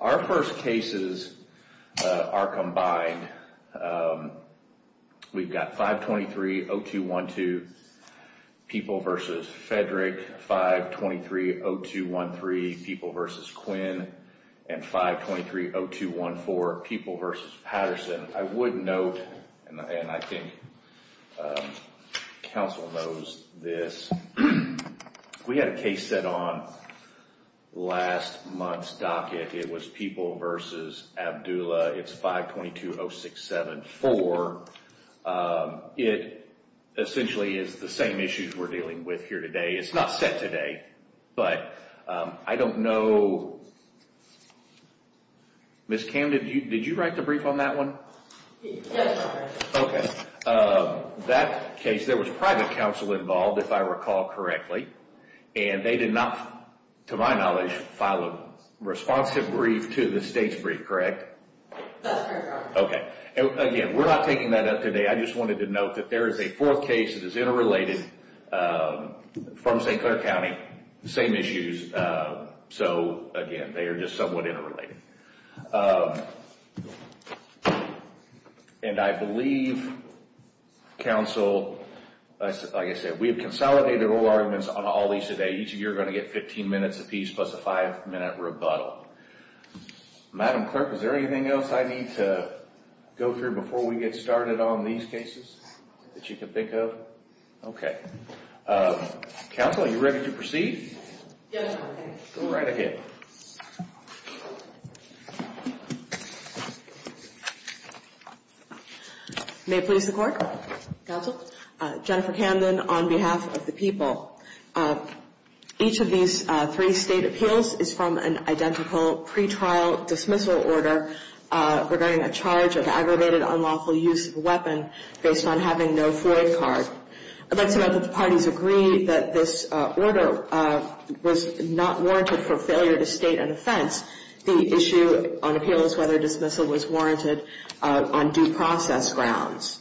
Our first cases are combined. We've got 523-0212, People v. Fedrick, 523-0213, People v. Quinn, and 523-0214, People v. Patterson. I would note, and I think counsel knows this, we had a case set on last month's docket. It was People v. Abdullah. It's 522-067-4. It essentially is the same issues we're dealing with here today. It's not set today, but I don't know. Ms. Camden, did you write the brief on that one? Yes, I did. Okay. That case, there was private counsel involved, if I recall correctly, and they did not, to my knowledge, file a responsive brief to the state's brief, correct? That's correct, Your Honor. Okay. Again, we're not taking that up today. I just wanted to note that there is a fourth case that is interrelated from St. Clair County, same issues. So, again, they are just somewhat interrelated. And I believe counsel, like I said, we have consolidated all arguments on all these today. Each of you are going to get 15 minutes apiece plus a five-minute rebuttal. Madam Clerk, is there anything else I need to go through before we get started on these cases that you can think of? Okay. Counsel, are you ready to proceed? Yes, Your Honor. Go right ahead. May it please the Court? Counsel? Jennifer Camden, on behalf of the people. Each of these three state appeals is from an identical pretrial dismissal order regarding a charge of aggravated unlawful use of a weapon based on having no FOIA card. I'd like to note that the parties agree that this order was not warranted for failure to state an offense. The issue on appeal is whether dismissal was warranted on due process grounds.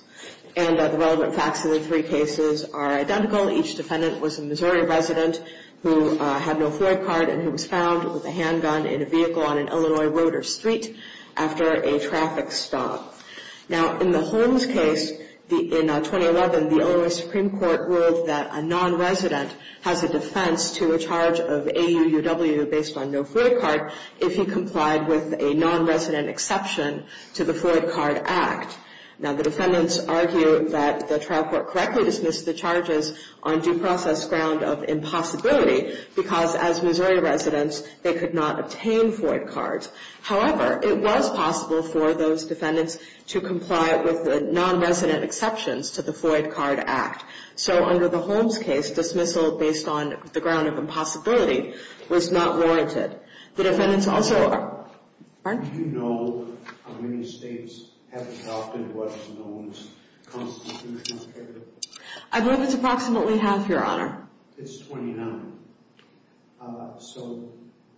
And the relevant facts in the three cases are identical. Each defendant was a Missouri resident who had no FOIA card and who was found with a handgun in a vehicle on an Illinois road or street after a traffic stop. Now, in the Holmes case in 2011, the Illinois Supreme Court ruled that a nonresident has a defense to a charge of AUUW based on no FOIA card if he complied with a nonresident exception to the FOIA card act. Now, the defendants argue that the trial court correctly dismissed the charges on due process ground of impossibility because, as Missouri residents, they could not obtain FOIA cards. However, it was possible for those defendants to comply with the nonresident exceptions to the FOIA card act. So under the Holmes case, dismissal based on the ground of impossibility was not warranted. The defendants also are... Pardon? Do you know how many states have adopted what is known as constitutional imperative? I believe it's approximately half, Your Honor. It's 29. So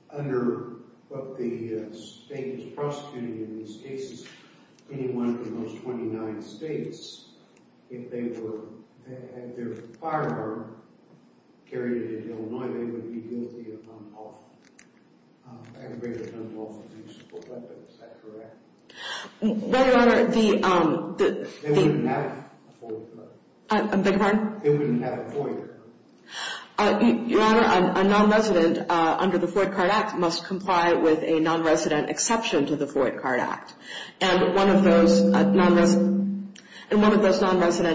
under what the state is prosecuting in these cases, anyone from those 29 states, if they had their firearm carried into Illinois, they would be guilty of aggravated gun lawful use of a weapon. Is that correct? Well, Your Honor, the... They wouldn't have a FOIA card. Beg your pardon? They wouldn't have a FOIA card. Your Honor, a nonresident under the FOIA card act must comply with a nonresident exception to the FOIA card act. And one of those nonresident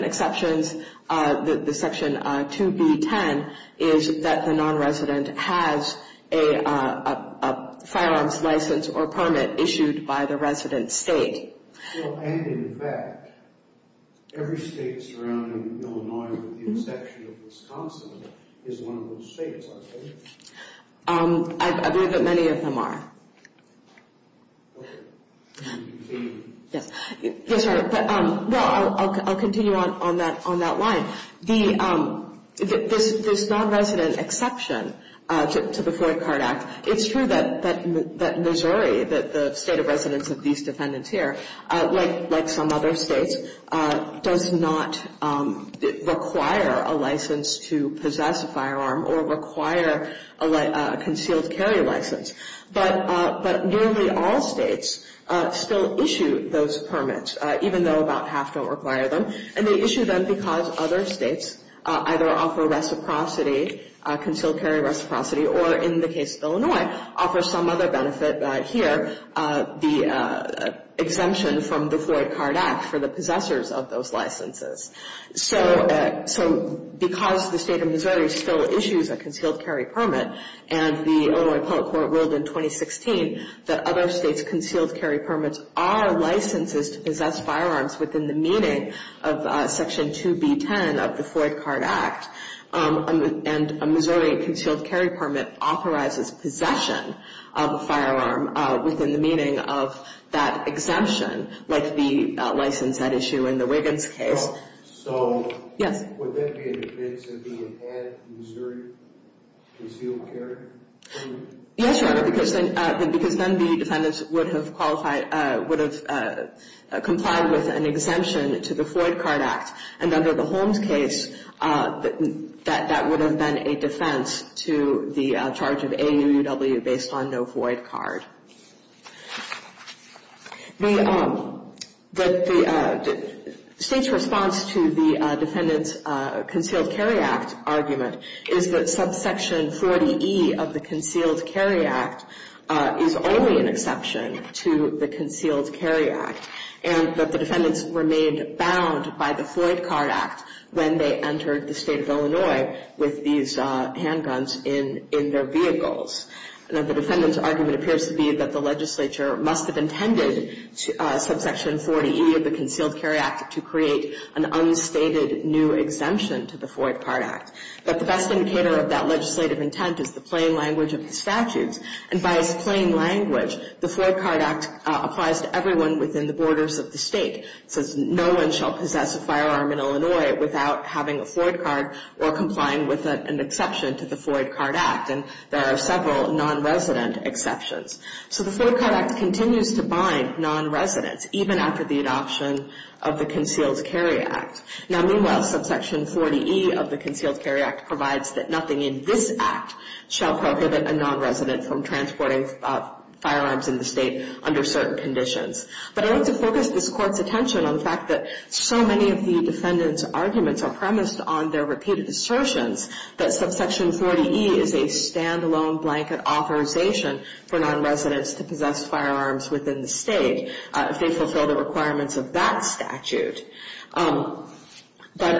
exceptions, the section 2B10, is that the nonresident has a firearms license or permit issued by the resident state. And in fact, every state surrounding Illinois with the exception of Wisconsin is one of those states, aren't they? I believe that many of them are. Okay. Yes, Your Honor. Well, I'll continue on that line. This nonresident exception to the FOIA card act, it's true that Missouri, the state of residence of these defendants here, like some other states, does not require a license to possess a firearm or require a concealed carry license. But nearly all states still issue those permits, even though about half don't require them. And they issue them because other states either offer reciprocity, concealed carry reciprocity, or in the case of Illinois, offer some other benefit here, the exemption from the FOIA card act for the possessors of those licenses. So because the state of Missouri still issues a concealed carry permit, and the Illinois public court ruled in 2016 that other states' concealed carry permits are licenses to possess firearms within the meaning of section 2B10 of the FOIA card act, and a Missouri concealed carry permit authorizes possession of a firearm within the meaning of that exemption, like the license that issue in the Wiggins case. So would that be a defense if you had Missouri concealed carry? Yes, Your Honor, because then the defendants would have qualified, would have complied with an exemption to the FOIA card act. And under the Holmes case, that would have been a defense to the charge of AUUW based on no FOIA card. The state's response to the defendants' concealed carry act argument is that subsection 40E of the concealed carry act is only an exception to the concealed carry act. And that the defendants remained bound by the FOIA card act when they entered the state of Illinois with these handguns in their vehicles. And that the defendants' argument appears to be that the legislature must have intended subsection 40E of the concealed carry act to create an unstated new exemption to the FOIA card act. But the best indicator of that legislative intent is the plain language of the statutes. And by its plain language, the FOIA card act applies to everyone within the borders of the state. It says no one shall possess a firearm in Illinois without having a FOIA card or complying with an exception to the FOIA card act. And there are several nonresident exceptions. So the FOIA card act continues to bind nonresidents, even after the adoption of the concealed carry act. Now, meanwhile, subsection 40E of the concealed carry act provides that nothing in this act shall prohibit a nonresident from transporting firearms in the state under certain conditions. But I want to focus this court's attention on the fact that so many of the defendants' arguments are premised on their repeated assertions that subsection 40E is a standalone blanket authorization for nonresidents to possess firearms within the state if they fulfill the requirements of that statute. But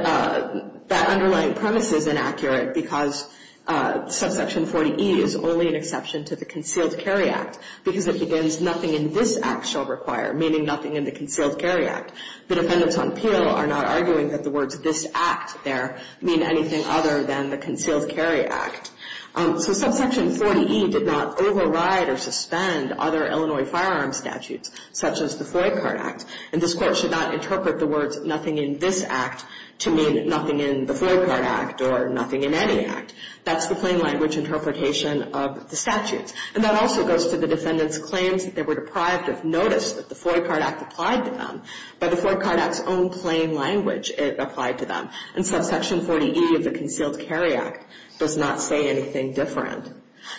that underlying premise is inaccurate because subsection 40E is only an exception to the concealed carry act because it begins nothing in this act shall require, meaning nothing in the concealed carry act. The defendants on appeal are not arguing that the words this act there mean anything other than the concealed carry act. So subsection 40E did not override or suspend other Illinois firearms statutes, such as the FOIA card act. And this court should not interpret the words nothing in this act to mean nothing in the FOIA card act or nothing in any act. That's the plain language interpretation of the statutes. And that also goes to the defendants' claims that they were deprived of notice that the FOIA card act applied to them. By the FOIA card act's own plain language, it applied to them. And subsection 40E of the concealed carry act does not say anything different.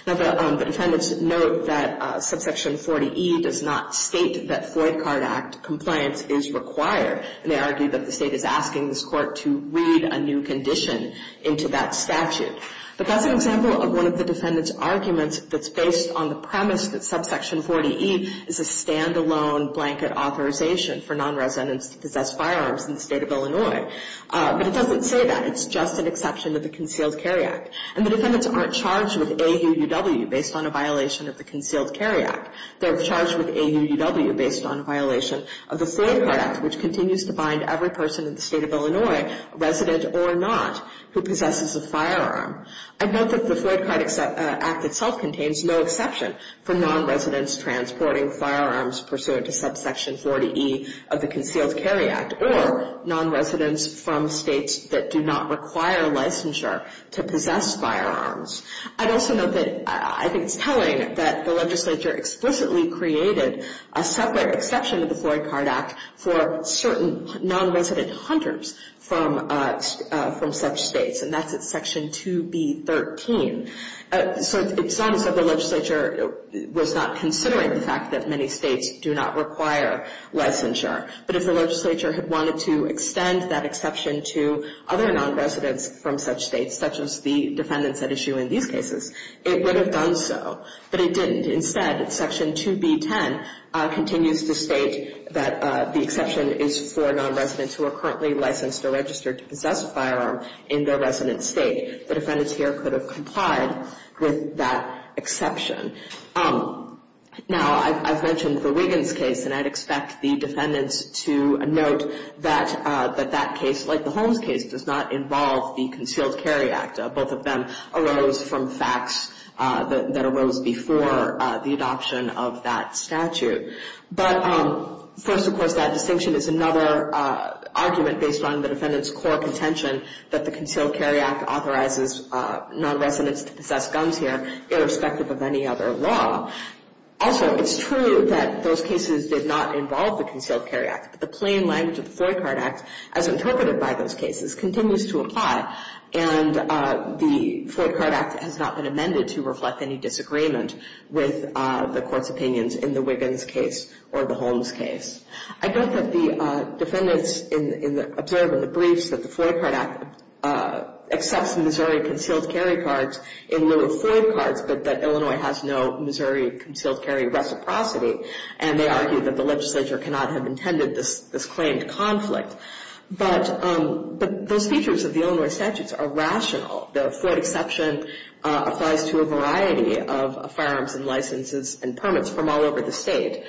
Now, the defendants note that subsection 40E does not state that FOIA card act compliance is required. And they argue that the state is asking this court to read a new condition into that statute. But that's an example of one of the defendants' arguments that's based on the premise that subsection 40E is a standalone blanket authorization for nonresidents to possess firearms in the state of Illinois. But it doesn't say that. It's just an exception to the concealed carry act. And the defendants aren't charged with AUUW based on a violation of the concealed carry act. They're charged with AUUW based on a violation of the FOIA card act, which continues to bind every person in the state of Illinois, resident or not, who possesses a firearm. I note that the FOIA card act itself contains no exception for nonresidents transporting firearms pursuant to subsection 40E of the concealed carry act or nonresidents from states that do not require licensure to possess firearms. I'd also note that I think it's telling that the legislature explicitly created a separate exception to the FOIA card act for certain nonresident hunters from such states, and that's at section 2B13. So it sounds like the legislature was not considering the fact that many states do not require licensure. But if the legislature had wanted to extend that exception to other nonresidents from such states, such as the defendants at issue in these cases, it would have done so. But it didn't. Instead, section 2B10 continues to state that the exception is for nonresidents who are currently licensed or registered to possess a firearm in their resident state. The defendants here could have complied with that exception. Now, I've mentioned the Wiggins case, and I'd expect the defendants to note that that case, like the Holmes case, does not involve the concealed carry act. Both of them arose from facts that arose before the adoption of that statute. But first, of course, that distinction is another argument based on the defendant's core contention that the concealed carry act authorizes nonresidents to possess guns here, irrespective of any other law. Also, it's true that those cases did not involve the concealed carry act. But the plain language of the Floyd card act, as interpreted by those cases, continues to apply. And the Floyd card act has not been amended to reflect any disagreement with the court's opinions in the Wiggins case or the Holmes case. I don't think the defendants observe in the briefs that the Floyd card act accepts Missouri concealed carry cards in lieu of Floyd cards, but that Illinois has no Missouri concealed carry reciprocity. And they argue that the legislature cannot have intended this claimed conflict. But those features of the Illinois statutes are rational. The Floyd exception applies to a variety of firearms and licenses and permits from all over the state.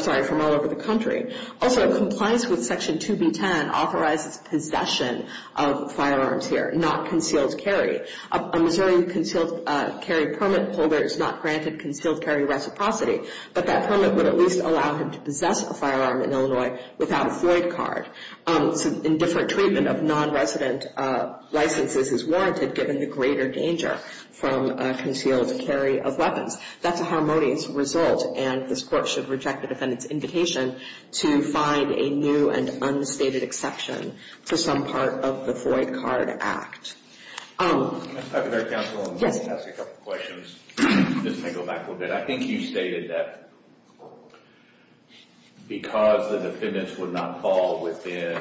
Sorry, from all over the country. Also, compliance with section 2B10 authorizes possession of firearms here, not concealed carry. A Missouri concealed carry permit holder is not granted concealed carry reciprocity, but that permit would at least allow him to possess a firearm in Illinois without a Floyd card. Indifferent treatment of nonresident licenses is warranted given the greater danger from concealed carry of weapons. That's a harmonious result. And this court should reject the defendant's invitation to find a new and unstated exception for some part of the Floyd card act. I've heard counsel ask a couple of questions. This may go back a little bit. I think you stated that because the defendants would not fall within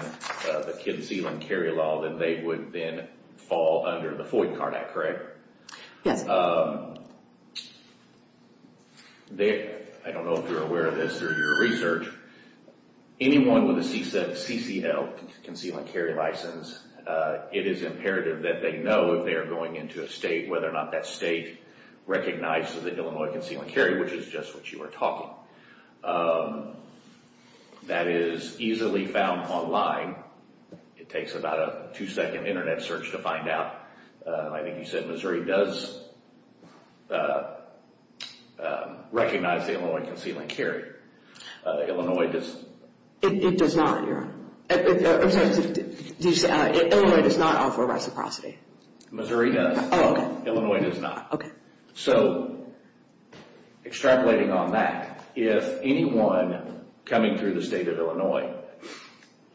the concealed carry law, then they would then fall under the Floyd card act, correct? Yes. I don't know if you're aware of this through your research. Anyone with a CCL, concealed carry license, it is imperative that they know if they are going into a state, whether or not that state recognizes the Illinois concealed carry, which is just what you are talking. That is easily found online. It takes about a two-second Internet search to find out. I think you said Missouri does recognize the Illinois concealed carry. Illinois does not. It does not. Illinois does not offer reciprocity. Missouri does. Illinois does not. Okay. So extrapolating on that, if anyone coming through the state of Illinois,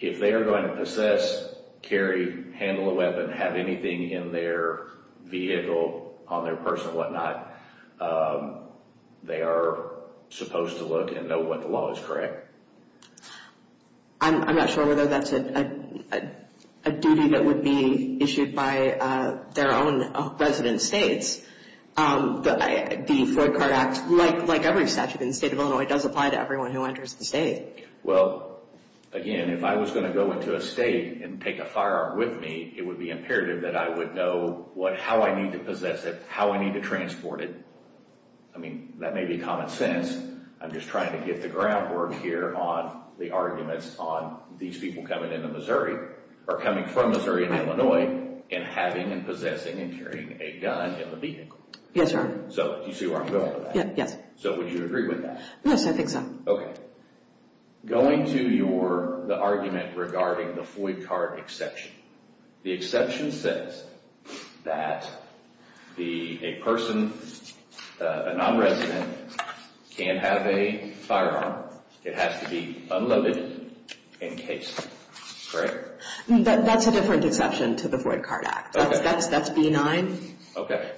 if they are going to possess, carry, handle a weapon, have anything in their vehicle, on their purse and whatnot, they are supposed to look and know what the law is, correct? I'm not sure whether that's a duty that would be issued by their own resident states. The Floyd card act, like every statute in the state of Illinois, does apply to everyone who enters the state. Well, again, if I was going to go into a state and take a firearm with me, it would be imperative that I would know how I need to possess it, how I need to transport it. I mean, that may be common sense. I'm just trying to get the groundwork here on the arguments on these people coming into Missouri or coming from Missouri and Illinois and having and possessing and carrying a gun in the vehicle. Yes, sir. So do you see where I'm going with that? Yes. So would you agree with that? Yes, I think so. Okay. Going to the argument regarding the Floyd card exception, the exception says that a person, a non-resident, can have a firearm. It has to be unloaded, encased, correct? That's a different exception to the Floyd card act. That's B-9. Okay.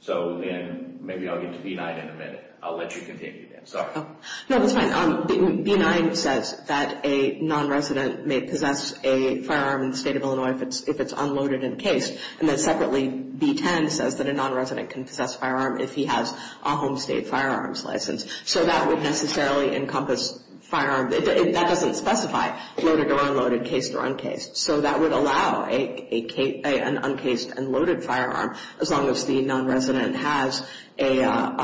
So then maybe I'll get to B-9 in a minute. I'll let you continue then. Sorry. No, that's fine. B-9 says that a non-resident may possess a firearm in the state of Illinois if it's unloaded and encased. And then separately, B-10 says that a non-resident can possess a firearm if he has a home state firearms license. So that would necessarily encompass firearms. That doesn't specify loaded or unloaded, encased or uncased. So that would allow an uncased and loaded firearm as long as the non-resident has a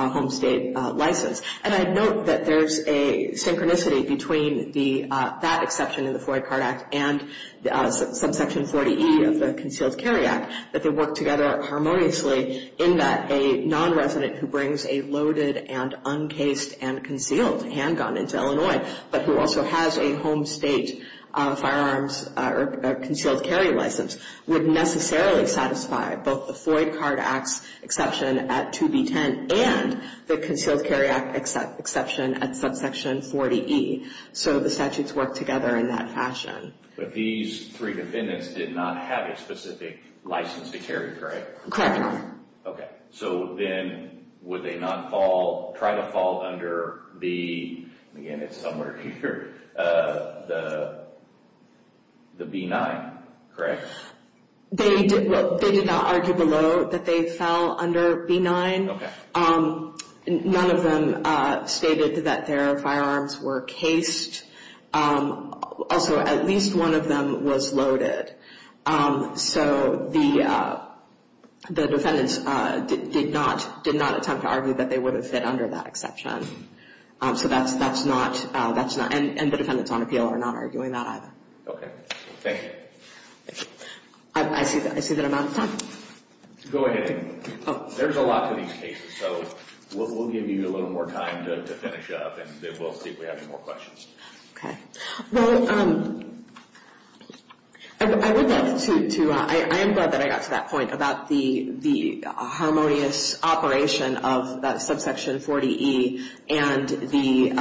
home state license. And I note that there's a synchronicity between that exception in the Floyd card act and subsection 40E of the Concealed Carry Act, that they work together harmoniously in that a non-resident who brings a loaded and uncased and concealed handgun into Illinois but who also has a home state firearms or concealed carry license would necessarily satisfy both the Floyd card act's exception at 2B-10 and the Concealed Carry Act exception at subsection 40E. So the statutes work together in that fashion. But these three defendants did not have a specific license to carry, correct? Correct. Okay. So then would they not fall, try to fall under the, again it's somewhere here, the B-9, correct? They did not argue below that they fell under B-9. Okay. None of them stated that their firearms were cased. Also at least one of them was loaded. So the defendants did not attempt to argue that they would have fit under that exception. So that's not, and the defendants on appeal are not arguing that either. Okay. Thank you. I see that I'm out of time. Go ahead. There's a lot to these cases, so we'll give you a little more time to finish up and we'll see if we have any more questions. Okay. Well, I would love to, I am glad that I got to that point about the harmonious operation of that subsection 40E and the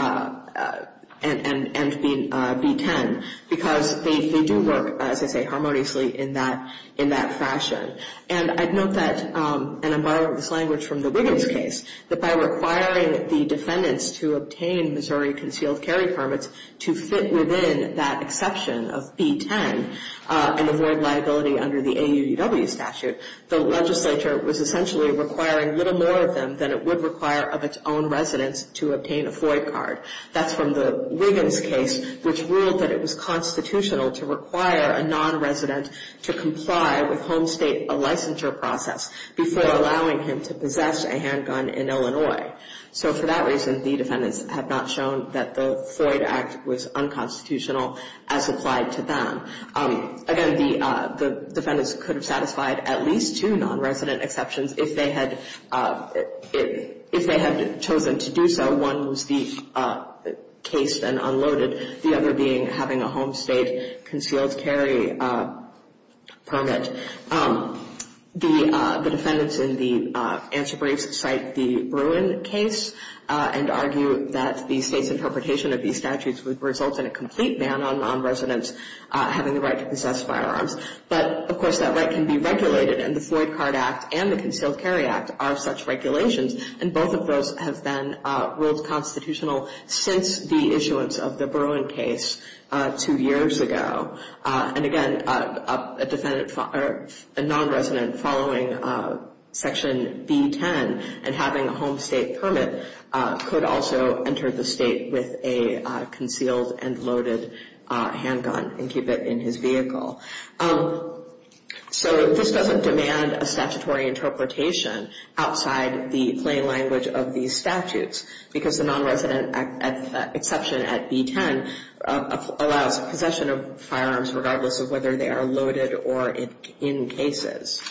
B-10 because they do work, as I say, harmoniously in that fashion. And I'd note that, and I'm borrowing this language from the Wiggins case, that by requiring the defendants to obtain Missouri concealed carry permits to fit within that exception of B-10 and avoid liability under the AUDW statute, the legislature was essentially requiring little more of them than it would require of its own residents to obtain a FOIA card. That's from the Wiggins case, which ruled that it was constitutional to require a non-resident to comply with home state licensure process before allowing him to possess a handgun in Illinois. So for that reason, the defendants have not shown that the FOIA act was unconstitutional as applied to them. Again, the defendants could have satisfied at least two non-resident exceptions if they had chosen to do so. One was the case then unloaded, the other being having a home state concealed carry permit. The defendants in the answer briefs cite the Bruin case and argue that the state's interpretation of these statutes would result in a complete ban on non-residents having the right to possess firearms. But, of course, that right can be regulated, and the Floyd Card Act and the Concealed Carry Act are such regulations, and both of those have been ruled constitutional since the issuance of the Bruin case two years ago. And again, a non-resident following Section B-10 and having a home state permit could also enter the state with a concealed and loaded handgun and keep it in his vehicle. So this doesn't demand a statutory interpretation outside the plain language of these statutes, because the non-resident exception at B-10 allows possession of firearms regardless of whether they are loaded or in cases.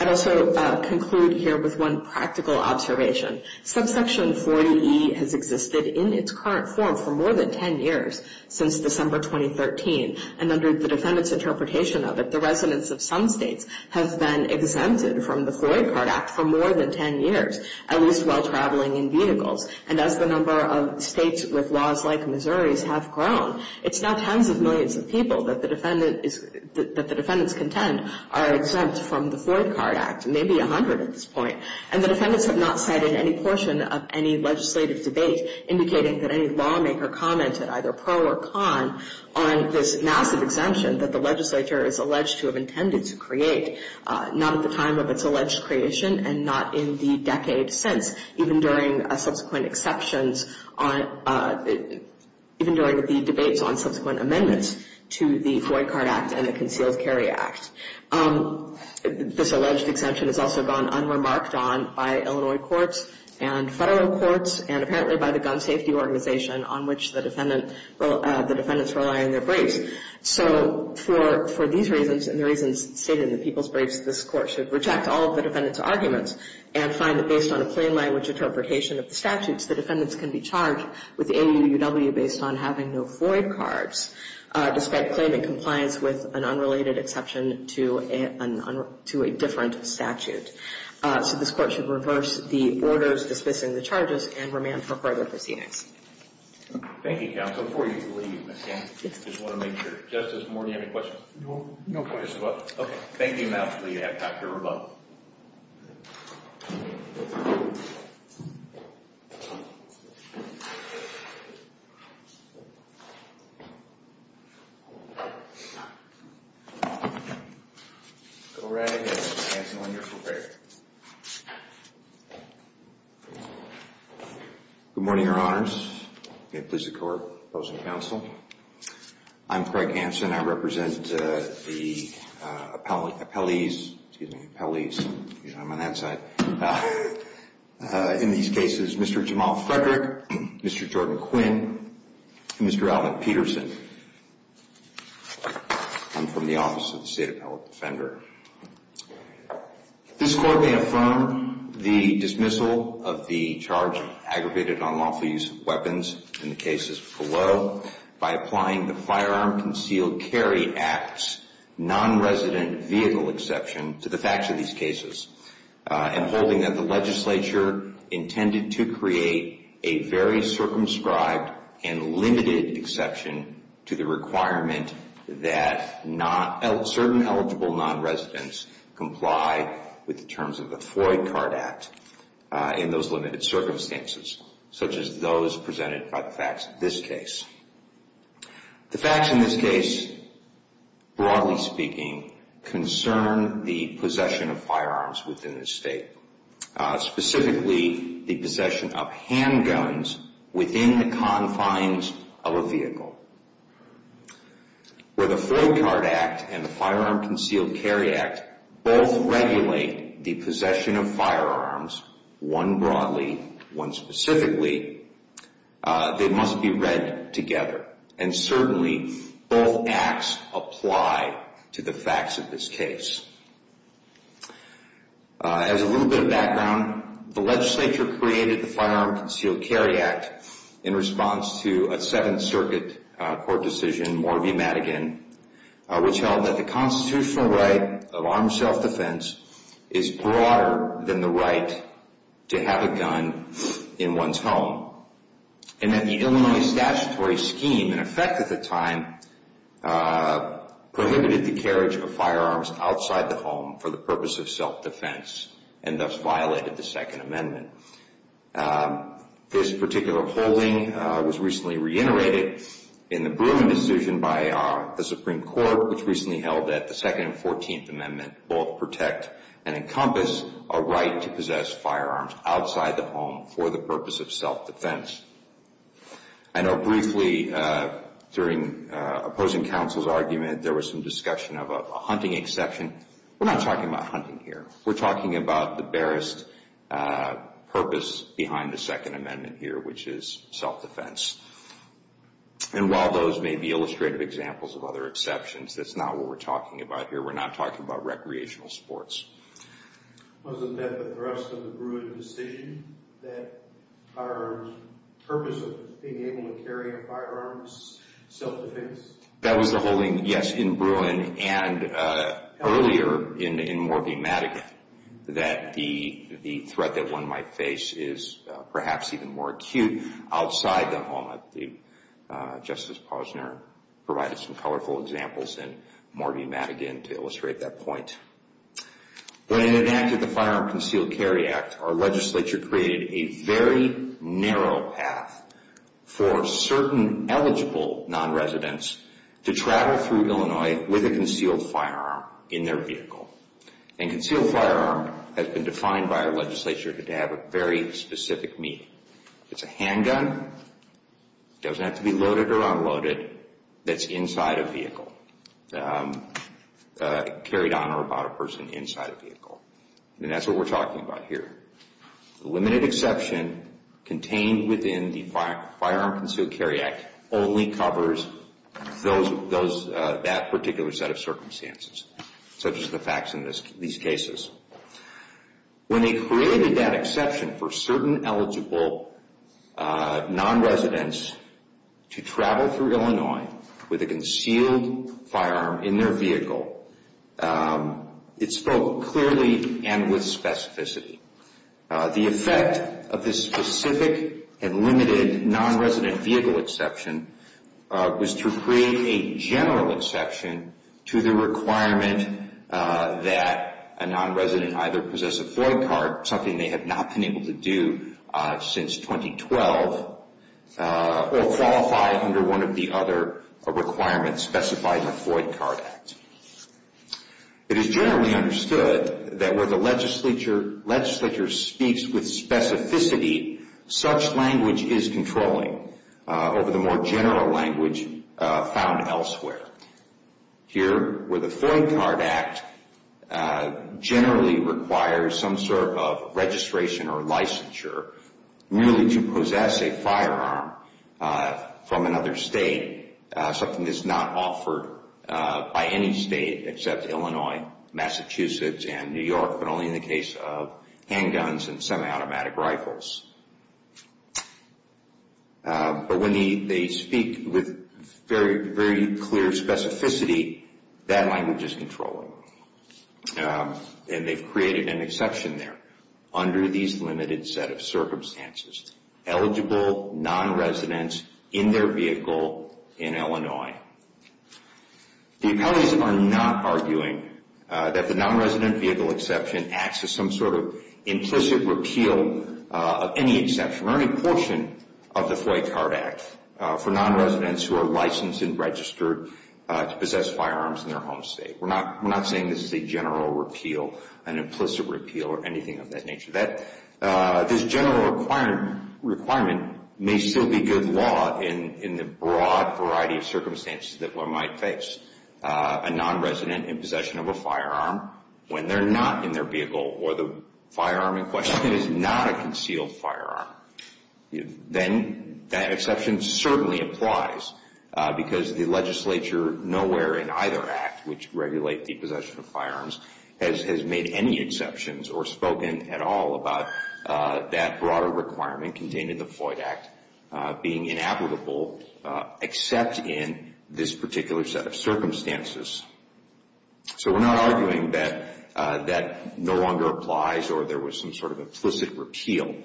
I'd also conclude here with one practical observation. Subsection 40E has existed in its current form for more than 10 years since December 2013, and under the defendant's interpretation of it, the residents of some states have been exempted from the Floyd Card Act for more than 10 years, at least while traveling in vehicles. And as the number of states with laws like Missouri's have grown, it's now tens of millions of people that the defendants contend are exempt from the Floyd Card Act, maybe 100 at this point. And the defendants have not said in any portion of any legislative debate, indicating that any lawmaker commented, either pro or con, on this massive exemption that the legislature is alleged to have intended to create, not at the time of its alleged creation and not in the decades since, even during subsequent exceptions, even during the debates on subsequent amendments to the Floyd Card Act and the Concealed Carry Act. This alleged exemption has also gone unremarked on by Illinois courts and federal courts and apparently by the gun safety organization on which the defendants rely in their briefs. So for these reasons and the reasons stated in the people's briefs, this court should reject all of the defendants' arguments and find that based on a plain language interpretation of the statutes, the defendants can be charged with AAUW based on having no Floyd cards, despite claiming compliance with an unrelated exception to a different statute. So this court should reverse the orders dismissing the charges and remand for further proceedings. Thank you, counsel. Before you leave, I just want to make sure. Justice Moore, do you have any questions? No questions. Okay. Thank you. Now I'll leave you to have a talk with your rebuttal. Go right ahead and answer when you're prepared. Good morning, Your Honors. May it please the Court. Opposing counsel. I'm Craig Hansen. I represent the appellees. Excuse me, appellees. Usually I'm on that side. In these cases, Mr. Jamal Frederick, Mr. Jordan Quinn, and Mr. Alvin Peterson. I'm from the Office of the State Appellate Defender. This court may affirm the dismissal of the charge aggravated on lawful use of weapons in the cases below by applying the Firearm Concealed Carry Act's non-resident vehicle exception to the facts of these cases and holding that the legislature intended to create a very circumscribed and limited exception to the requirement that certain eligible non-residents comply with the terms of the Floyd Card Act in those limited circumstances, such as those presented by the facts of this case. The facts in this case, broadly speaking, concern the possession of firearms within the state, specifically the possession of handguns within the confines of a vehicle. Where the Floyd Card Act and the Firearm Concealed Carry Act both regulate the possession of firearms, one broadly, one specifically, they must be read together. And certainly, both acts apply to the facts of this case. As a little bit of background, the legislature created the Firearm Concealed Carry Act in response to a Seventh Circuit court decision, Morview-Madigan, which held that the constitutional right of armed self-defense is broader than the right to have a gun in one's home. And that the Illinois statutory scheme, in effect at the time, prohibited the carriage of firearms outside the home for the purpose of self-defense and thus violated the Second Amendment. This particular holding was recently reiterated in the Bruin decision by the Supreme Court, which recently held that the Second and Fourteenth Amendment both protect and encompass a right to possess firearms outside the home for the purpose of self-defense. I know briefly, during opposing counsel's argument, there was some discussion of a hunting exception. We're not talking about hunting here. We're talking about the barest purpose behind the Second Amendment here, which is self-defense. And while those may be illustrative examples of other exceptions, that's not what we're talking about here. We're not talking about recreational sports. Wasn't that the thrust of the Bruin decision, that our purpose of being able to carry a firearm is self-defense? That was the holding, yes, in Bruin and earlier in Morview-Madigan, that the threat that one might face is perhaps even more acute outside the home. Justice Posner provided some colorful examples in Morview-Madigan to illustrate that point. When it enacted the Firearm Concealed Carry Act, our legislature created a very narrow path for certain eligible nonresidents to travel through Illinois with a concealed firearm in their vehicle. And concealed firearm has been defined by our legislature to have a very specific meaning. It's a handgun. It doesn't have to be loaded or unloaded. It's inside a vehicle, carried on or about a person inside a vehicle. And that's what we're talking about here. The limited exception contained within the Firearm Concealed Carry Act only covers that particular set of circumstances, such as the facts in these cases. When they created that exception for certain eligible nonresidents to travel through Illinois with a concealed firearm in their vehicle, it spoke clearly and with specificity. The effect of this specific and limited nonresident vehicle exception was to create a general exception to the requirement that a nonresident either possess a Floyd card, something they have not been able to do since 2012, or qualify under one of the other requirements specified in the Floyd Card Act. It is generally understood that where the legislature speaks with specificity, such language is controlling over the more general language found elsewhere. Here, where the Floyd Card Act generally requires some sort of registration or licensure, merely to possess a firearm from another state, something that's not offered by any state except Illinois, Massachusetts, and New York, but only in the case of handguns and semi-automatic rifles. But when they speak with very clear specificity, that language is controlling. And they've created an exception there under these limited set of circumstances. Eligible nonresidents in their vehicle in Illinois. The appellees are not arguing that the nonresident vehicle exception acts as some sort of implicit repeal of any exception or any portion of the Floyd Card Act for nonresidents who are licensed and registered to possess firearms in their home state. We're not saying this is a general repeal, an implicit repeal, or anything of that nature. This general requirement may still be good law in the broad variety of circumstances that one might face. A nonresident in possession of a firearm when they're not in their vehicle or the firearm in question is not a concealed firearm. Then that exception certainly applies because the legislature nowhere in either act which regulate the possession of firearms has made any exceptions or spoken at all about that broader requirement contained in the Floyd Act being inapplicable except in this particular set of circumstances. So we're not arguing that that no longer applies or there was some sort of implicit repeal.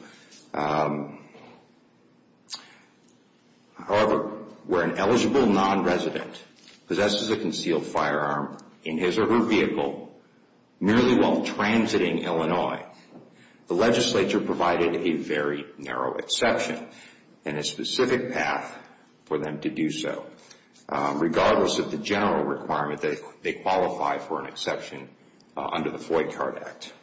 However, where an eligible nonresident possesses a concealed firearm in his or her vehicle merely while transiting Illinois, the legislature provided a very narrow exception and a specific path for them to do so. Regardless of the general requirement, they qualify for an exception under the Floyd Card Act.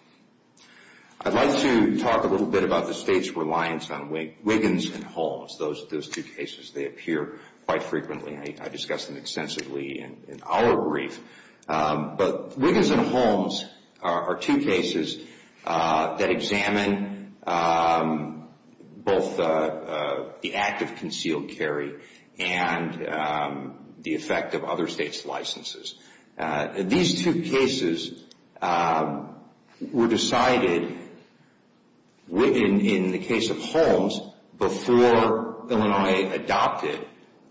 I'd like to talk a little bit about the state's reliance on Wiggins and Holmes, those two cases. They appear quite frequently. I discuss them extensively in our brief. But Wiggins and Holmes are two cases that examine both the act of concealed carry and the effect of other states' licenses. These two cases were decided in the case of Holmes before Illinois adopted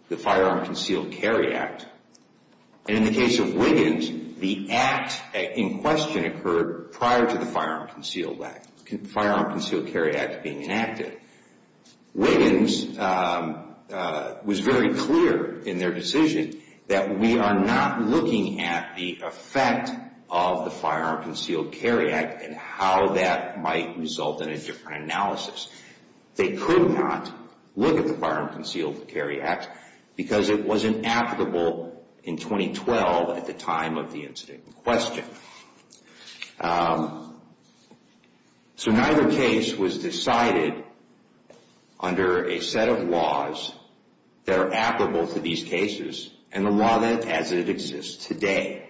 the Firearm Concealed Carry Act. In the case of Wiggins, the act in question occurred prior to the Firearm Concealed Carry Act being enacted. Wiggins was very clear in their decision that we are not looking at the effect of the Firearm Concealed Carry Act and how that might result in a different analysis. They could not look at the Firearm Concealed Carry Act because it was inapplicable in 2012 at the time of the incident in question. So neither case was decided under a set of laws that are applicable to these cases and the law as it exists today.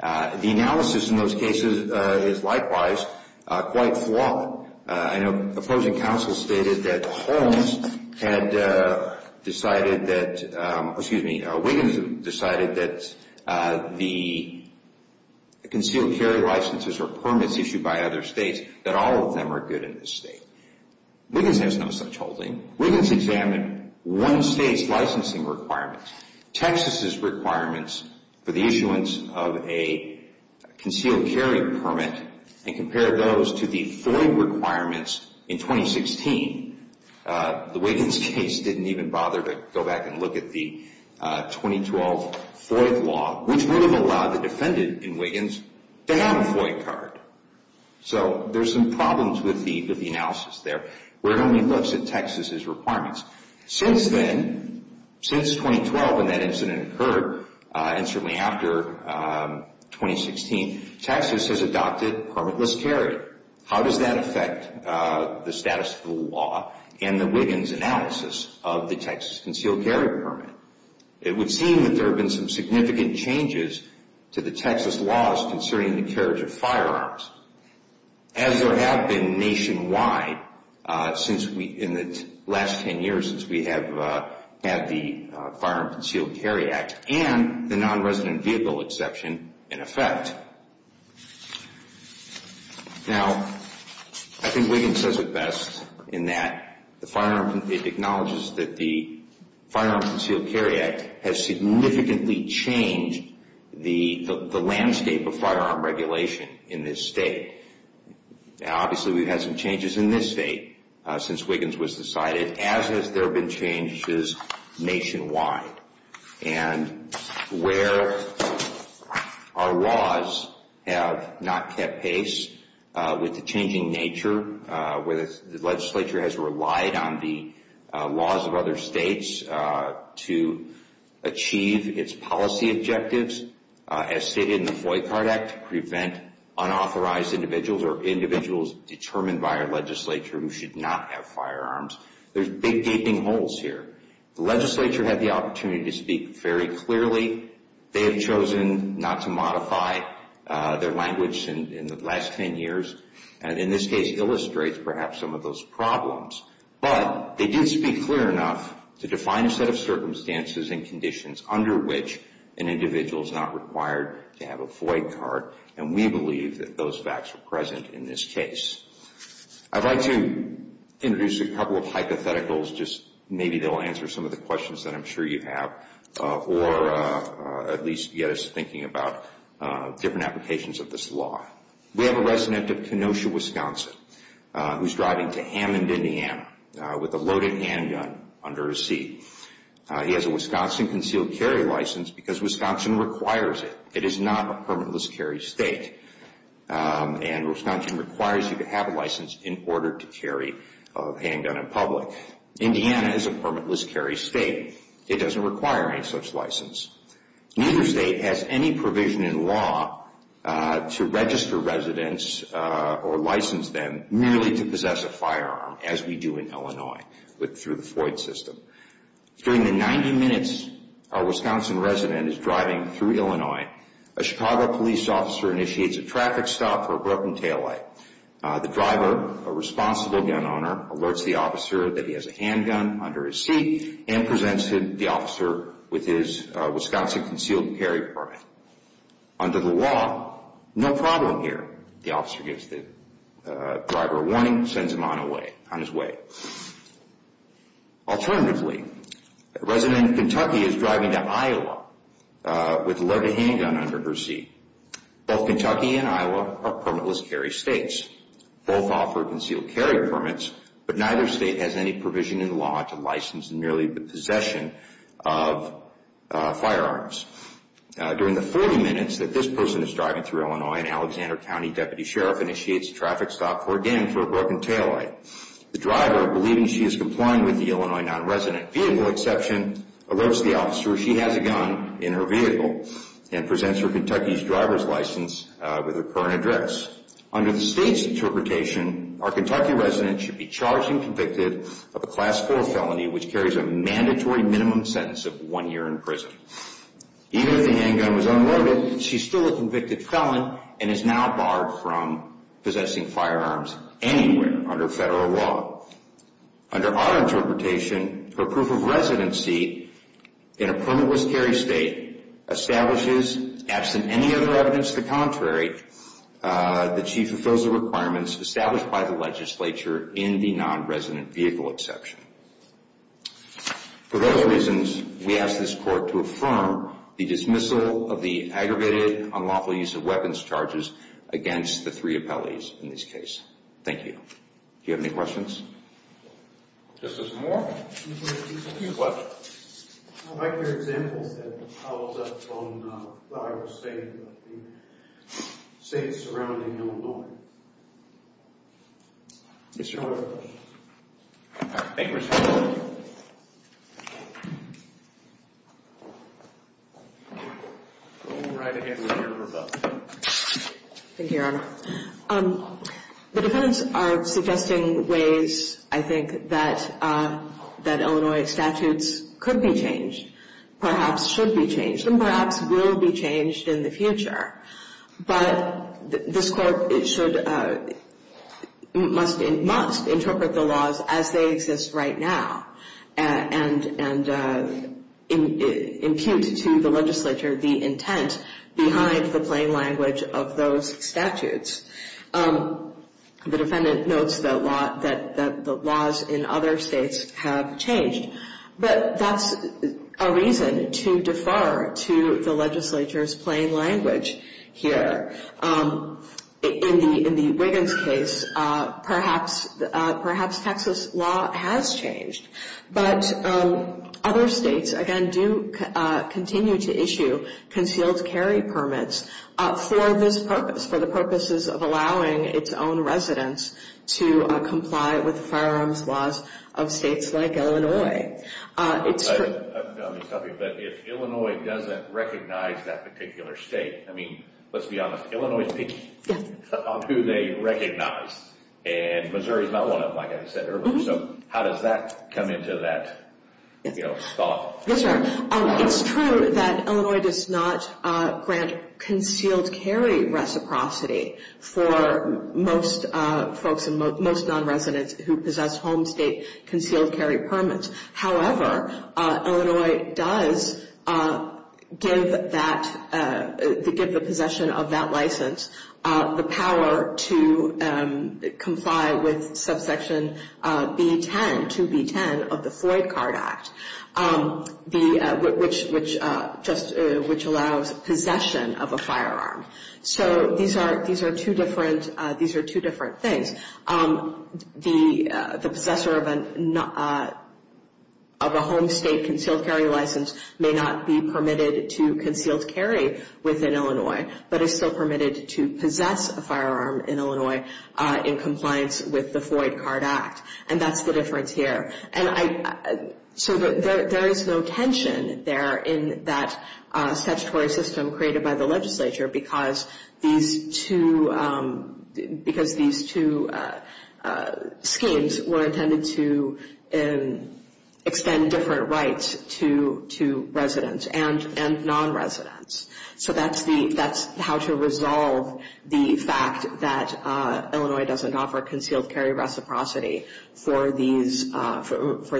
The analysis in those cases is likewise quite flawed. I know opposing counsel stated that Wiggins decided that the concealed carry licenses or permits issued by other states, that all of them are good in this state. Wiggins has no such holding. Wiggins examined one state's licensing requirements, Texas's requirements for the issuance of a concealed carry permit, and compared those to the FOIA requirements in 2016. The Wiggins case didn't even bother to go back and look at the 2012 FOIA law, which would have allowed the defendant in Wiggins to have a FOIA card. So there's some problems with the analysis there. We're going to look at Texas's requirements. Since then, since 2012 when that incident occurred, and certainly after 2016, Texas has adopted permitless carry. How does that affect the status of the law and the Wiggins analysis of the Texas concealed carry permit? It would seem that there have been some significant changes to the Texas laws concerning the carriage of firearms. As there have been nationwide in the last ten years since we have had the Firearm Concealed Carry Act and the Non-Resident Vehicle Exception in effect. Now, I think Wiggins does it best in that it acknowledges that the Firearm Concealed Carry Act has significantly changed the landscape of firearm regulation in this state. Obviously, we've had some changes in this state since Wiggins was decided, as has there been changes nationwide. And where our laws have not kept pace with the changing nature, where the legislature has relied on the laws of other states to achieve its policy objectives, as stated in the FOIA Card Act, to prevent unauthorized individuals or individuals determined by our legislature who should not have firearms. There's big gaping holes here. The legislature had the opportunity to speak very clearly. They have chosen not to modify their language in the last ten years. And in this case, illustrates perhaps some of those problems. But they did speak clear enough to define a set of circumstances and conditions under which an individual is not required to have a FOIA card. And we believe that those facts are present in this case. I'd like to introduce a couple of hypotheticals. Just maybe they'll answer some of the questions that I'm sure you have. Or at least get us thinking about different applications of this law. We have a resident of Kenosha, Wisconsin, who's driving to Hammond, Indiana, with a loaded handgun under his seat. He has a Wisconsin concealed carry license because Wisconsin requires it. It is not a permitless carry state. And Wisconsin requires you to have a license in order to carry a handgun in public. Indiana is a permitless carry state. It doesn't require any such license. Neither state has any provision in law to register residents or license them merely to possess a firearm, as we do in Illinois through the FOIA system. During the 90 minutes a Wisconsin resident is driving through Illinois, a Chicago police officer initiates a traffic stop for a broken taillight. The driver, a responsible gun owner, alerts the officer that he has a handgun under his seat and presents the officer with his Wisconsin concealed carry permit. Under the law, no problem here. The officer gives the driver a warning and sends him on his way. Alternatively, a resident in Kentucky is driving to Iowa with a loaded handgun under her seat. Both Kentucky and Iowa are permitless carry states. Both offer concealed carry permits, but neither state has any provision in law to license merely the possession of firearms. During the 40 minutes that this person is driving through Illinois, an Alexander County deputy sheriff initiates a traffic stop for, again, for a broken taillight. The driver, believing she is complying with the Illinois nonresident vehicle exception, alerts the officer she has a gun in her vehicle and presents her Kentucky driver's license with her current address. Under the state's interpretation, our Kentucky resident should be charged and convicted of a Class 4 felony which carries a mandatory minimum sentence of one year in prison. Even if the handgun was unloaded, she is still a convicted felon and is now barred from possessing firearms anywhere under federal law. Under our interpretation, her proof of residency in a permitless carry state establishes, absent any other evidence to the contrary, that she fulfills the requirements established by the legislature in the nonresident vehicle exception. For those reasons, we ask this court to affirm the dismissal of the aggravated unlawful use of weapons charges against the three appellees in this case. Thank you. Do you have any questions? Justice Moore? What? I'd like your examples and follow-up on what I was saying about the states surrounding Illinois. Yes, Your Honor. Thank you, Your Honor. We'll move right ahead with your rebuttal. Thank you, Your Honor. The defendants are suggesting ways, I think, that Illinois statutes could be changed, perhaps should be changed, and perhaps will be changed in the future. But this court must interpret the laws as they exist right now and impute to the legislature the intent behind the plain language of those statutes. The defendant notes that the laws in other states have changed, but that's a reason to defer to the legislature's plain language here. In the Wiggins case, perhaps Texas law has changed. But other states, again, do continue to issue concealed carry permits for this purpose, for the purposes of allowing its own residents to comply with the firearms laws of states like Illinois. Let me tell you, if Illinois doesn't recognize that particular state, I mean, let's be honest, Illinois is picking on who they recognize, and Missouri is not one of them, like I said earlier. So how does that come into that thought? Yes, Your Honor. It's true that Illinois does not grant concealed carry reciprocity for most folks and most non-residents who possess home state concealed carry permits. However, Illinois does give the possession of that license the power to comply with subsection B-10, 2B-10 of the Floyd Card Act, which allows possession of a firearm. So these are two different things. The possessor of a home state concealed carry license may not be permitted to concealed carry within Illinois, but is still permitted to possess a firearm in Illinois in compliance with the Floyd Card Act. And that's the difference here. So there is no tension there in that statutory system created by the legislature because these two schemes were intended to extend different rights to residents and non-residents. So that's how to resolve the fact that Illinois doesn't offer concealed carry reciprocity for these non-resident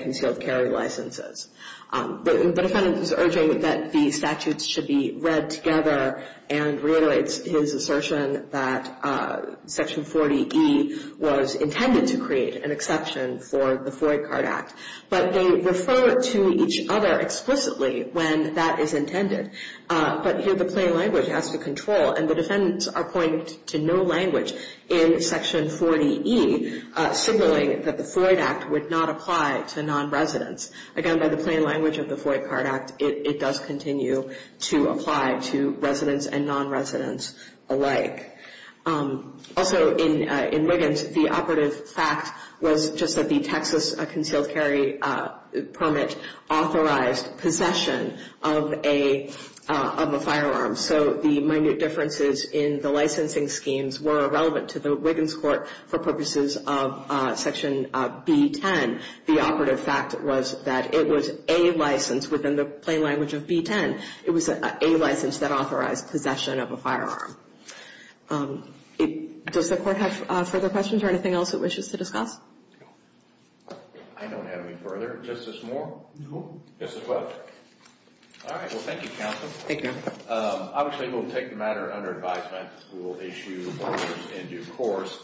concealed carry licenses. The defendant is urging that the statutes should be read together and reiterates his assertion that Section 40E was intended to create an exception for the Floyd Card Act. But they refer to each other explicitly when that is intended. But here the plain language has to control, and the defendants are pointing to no language in Section 40E signaling that the Floyd Act would not apply to non-residents. Again, by the plain language of the Floyd Card Act, it does continue to apply to residents and non-residents alike. Also in Wiggins, the operative fact was just that the Texas concealed carry permit authorized possession of a firearm. So the minute differences in the licensing schemes were irrelevant to the Wiggins court for purposes of Section B10. The operative fact was that it was a license within the plain language of B10. It was a license that authorized possession of a firearm. Does the court have further questions or anything else it wishes to discuss? I don't have any further. Justice Moore? No. Just as well. All right. Well, thank you, Counsel. Thank you, Your Honor. Obviously we'll take the matter under advisement. We'll issue orders in due course.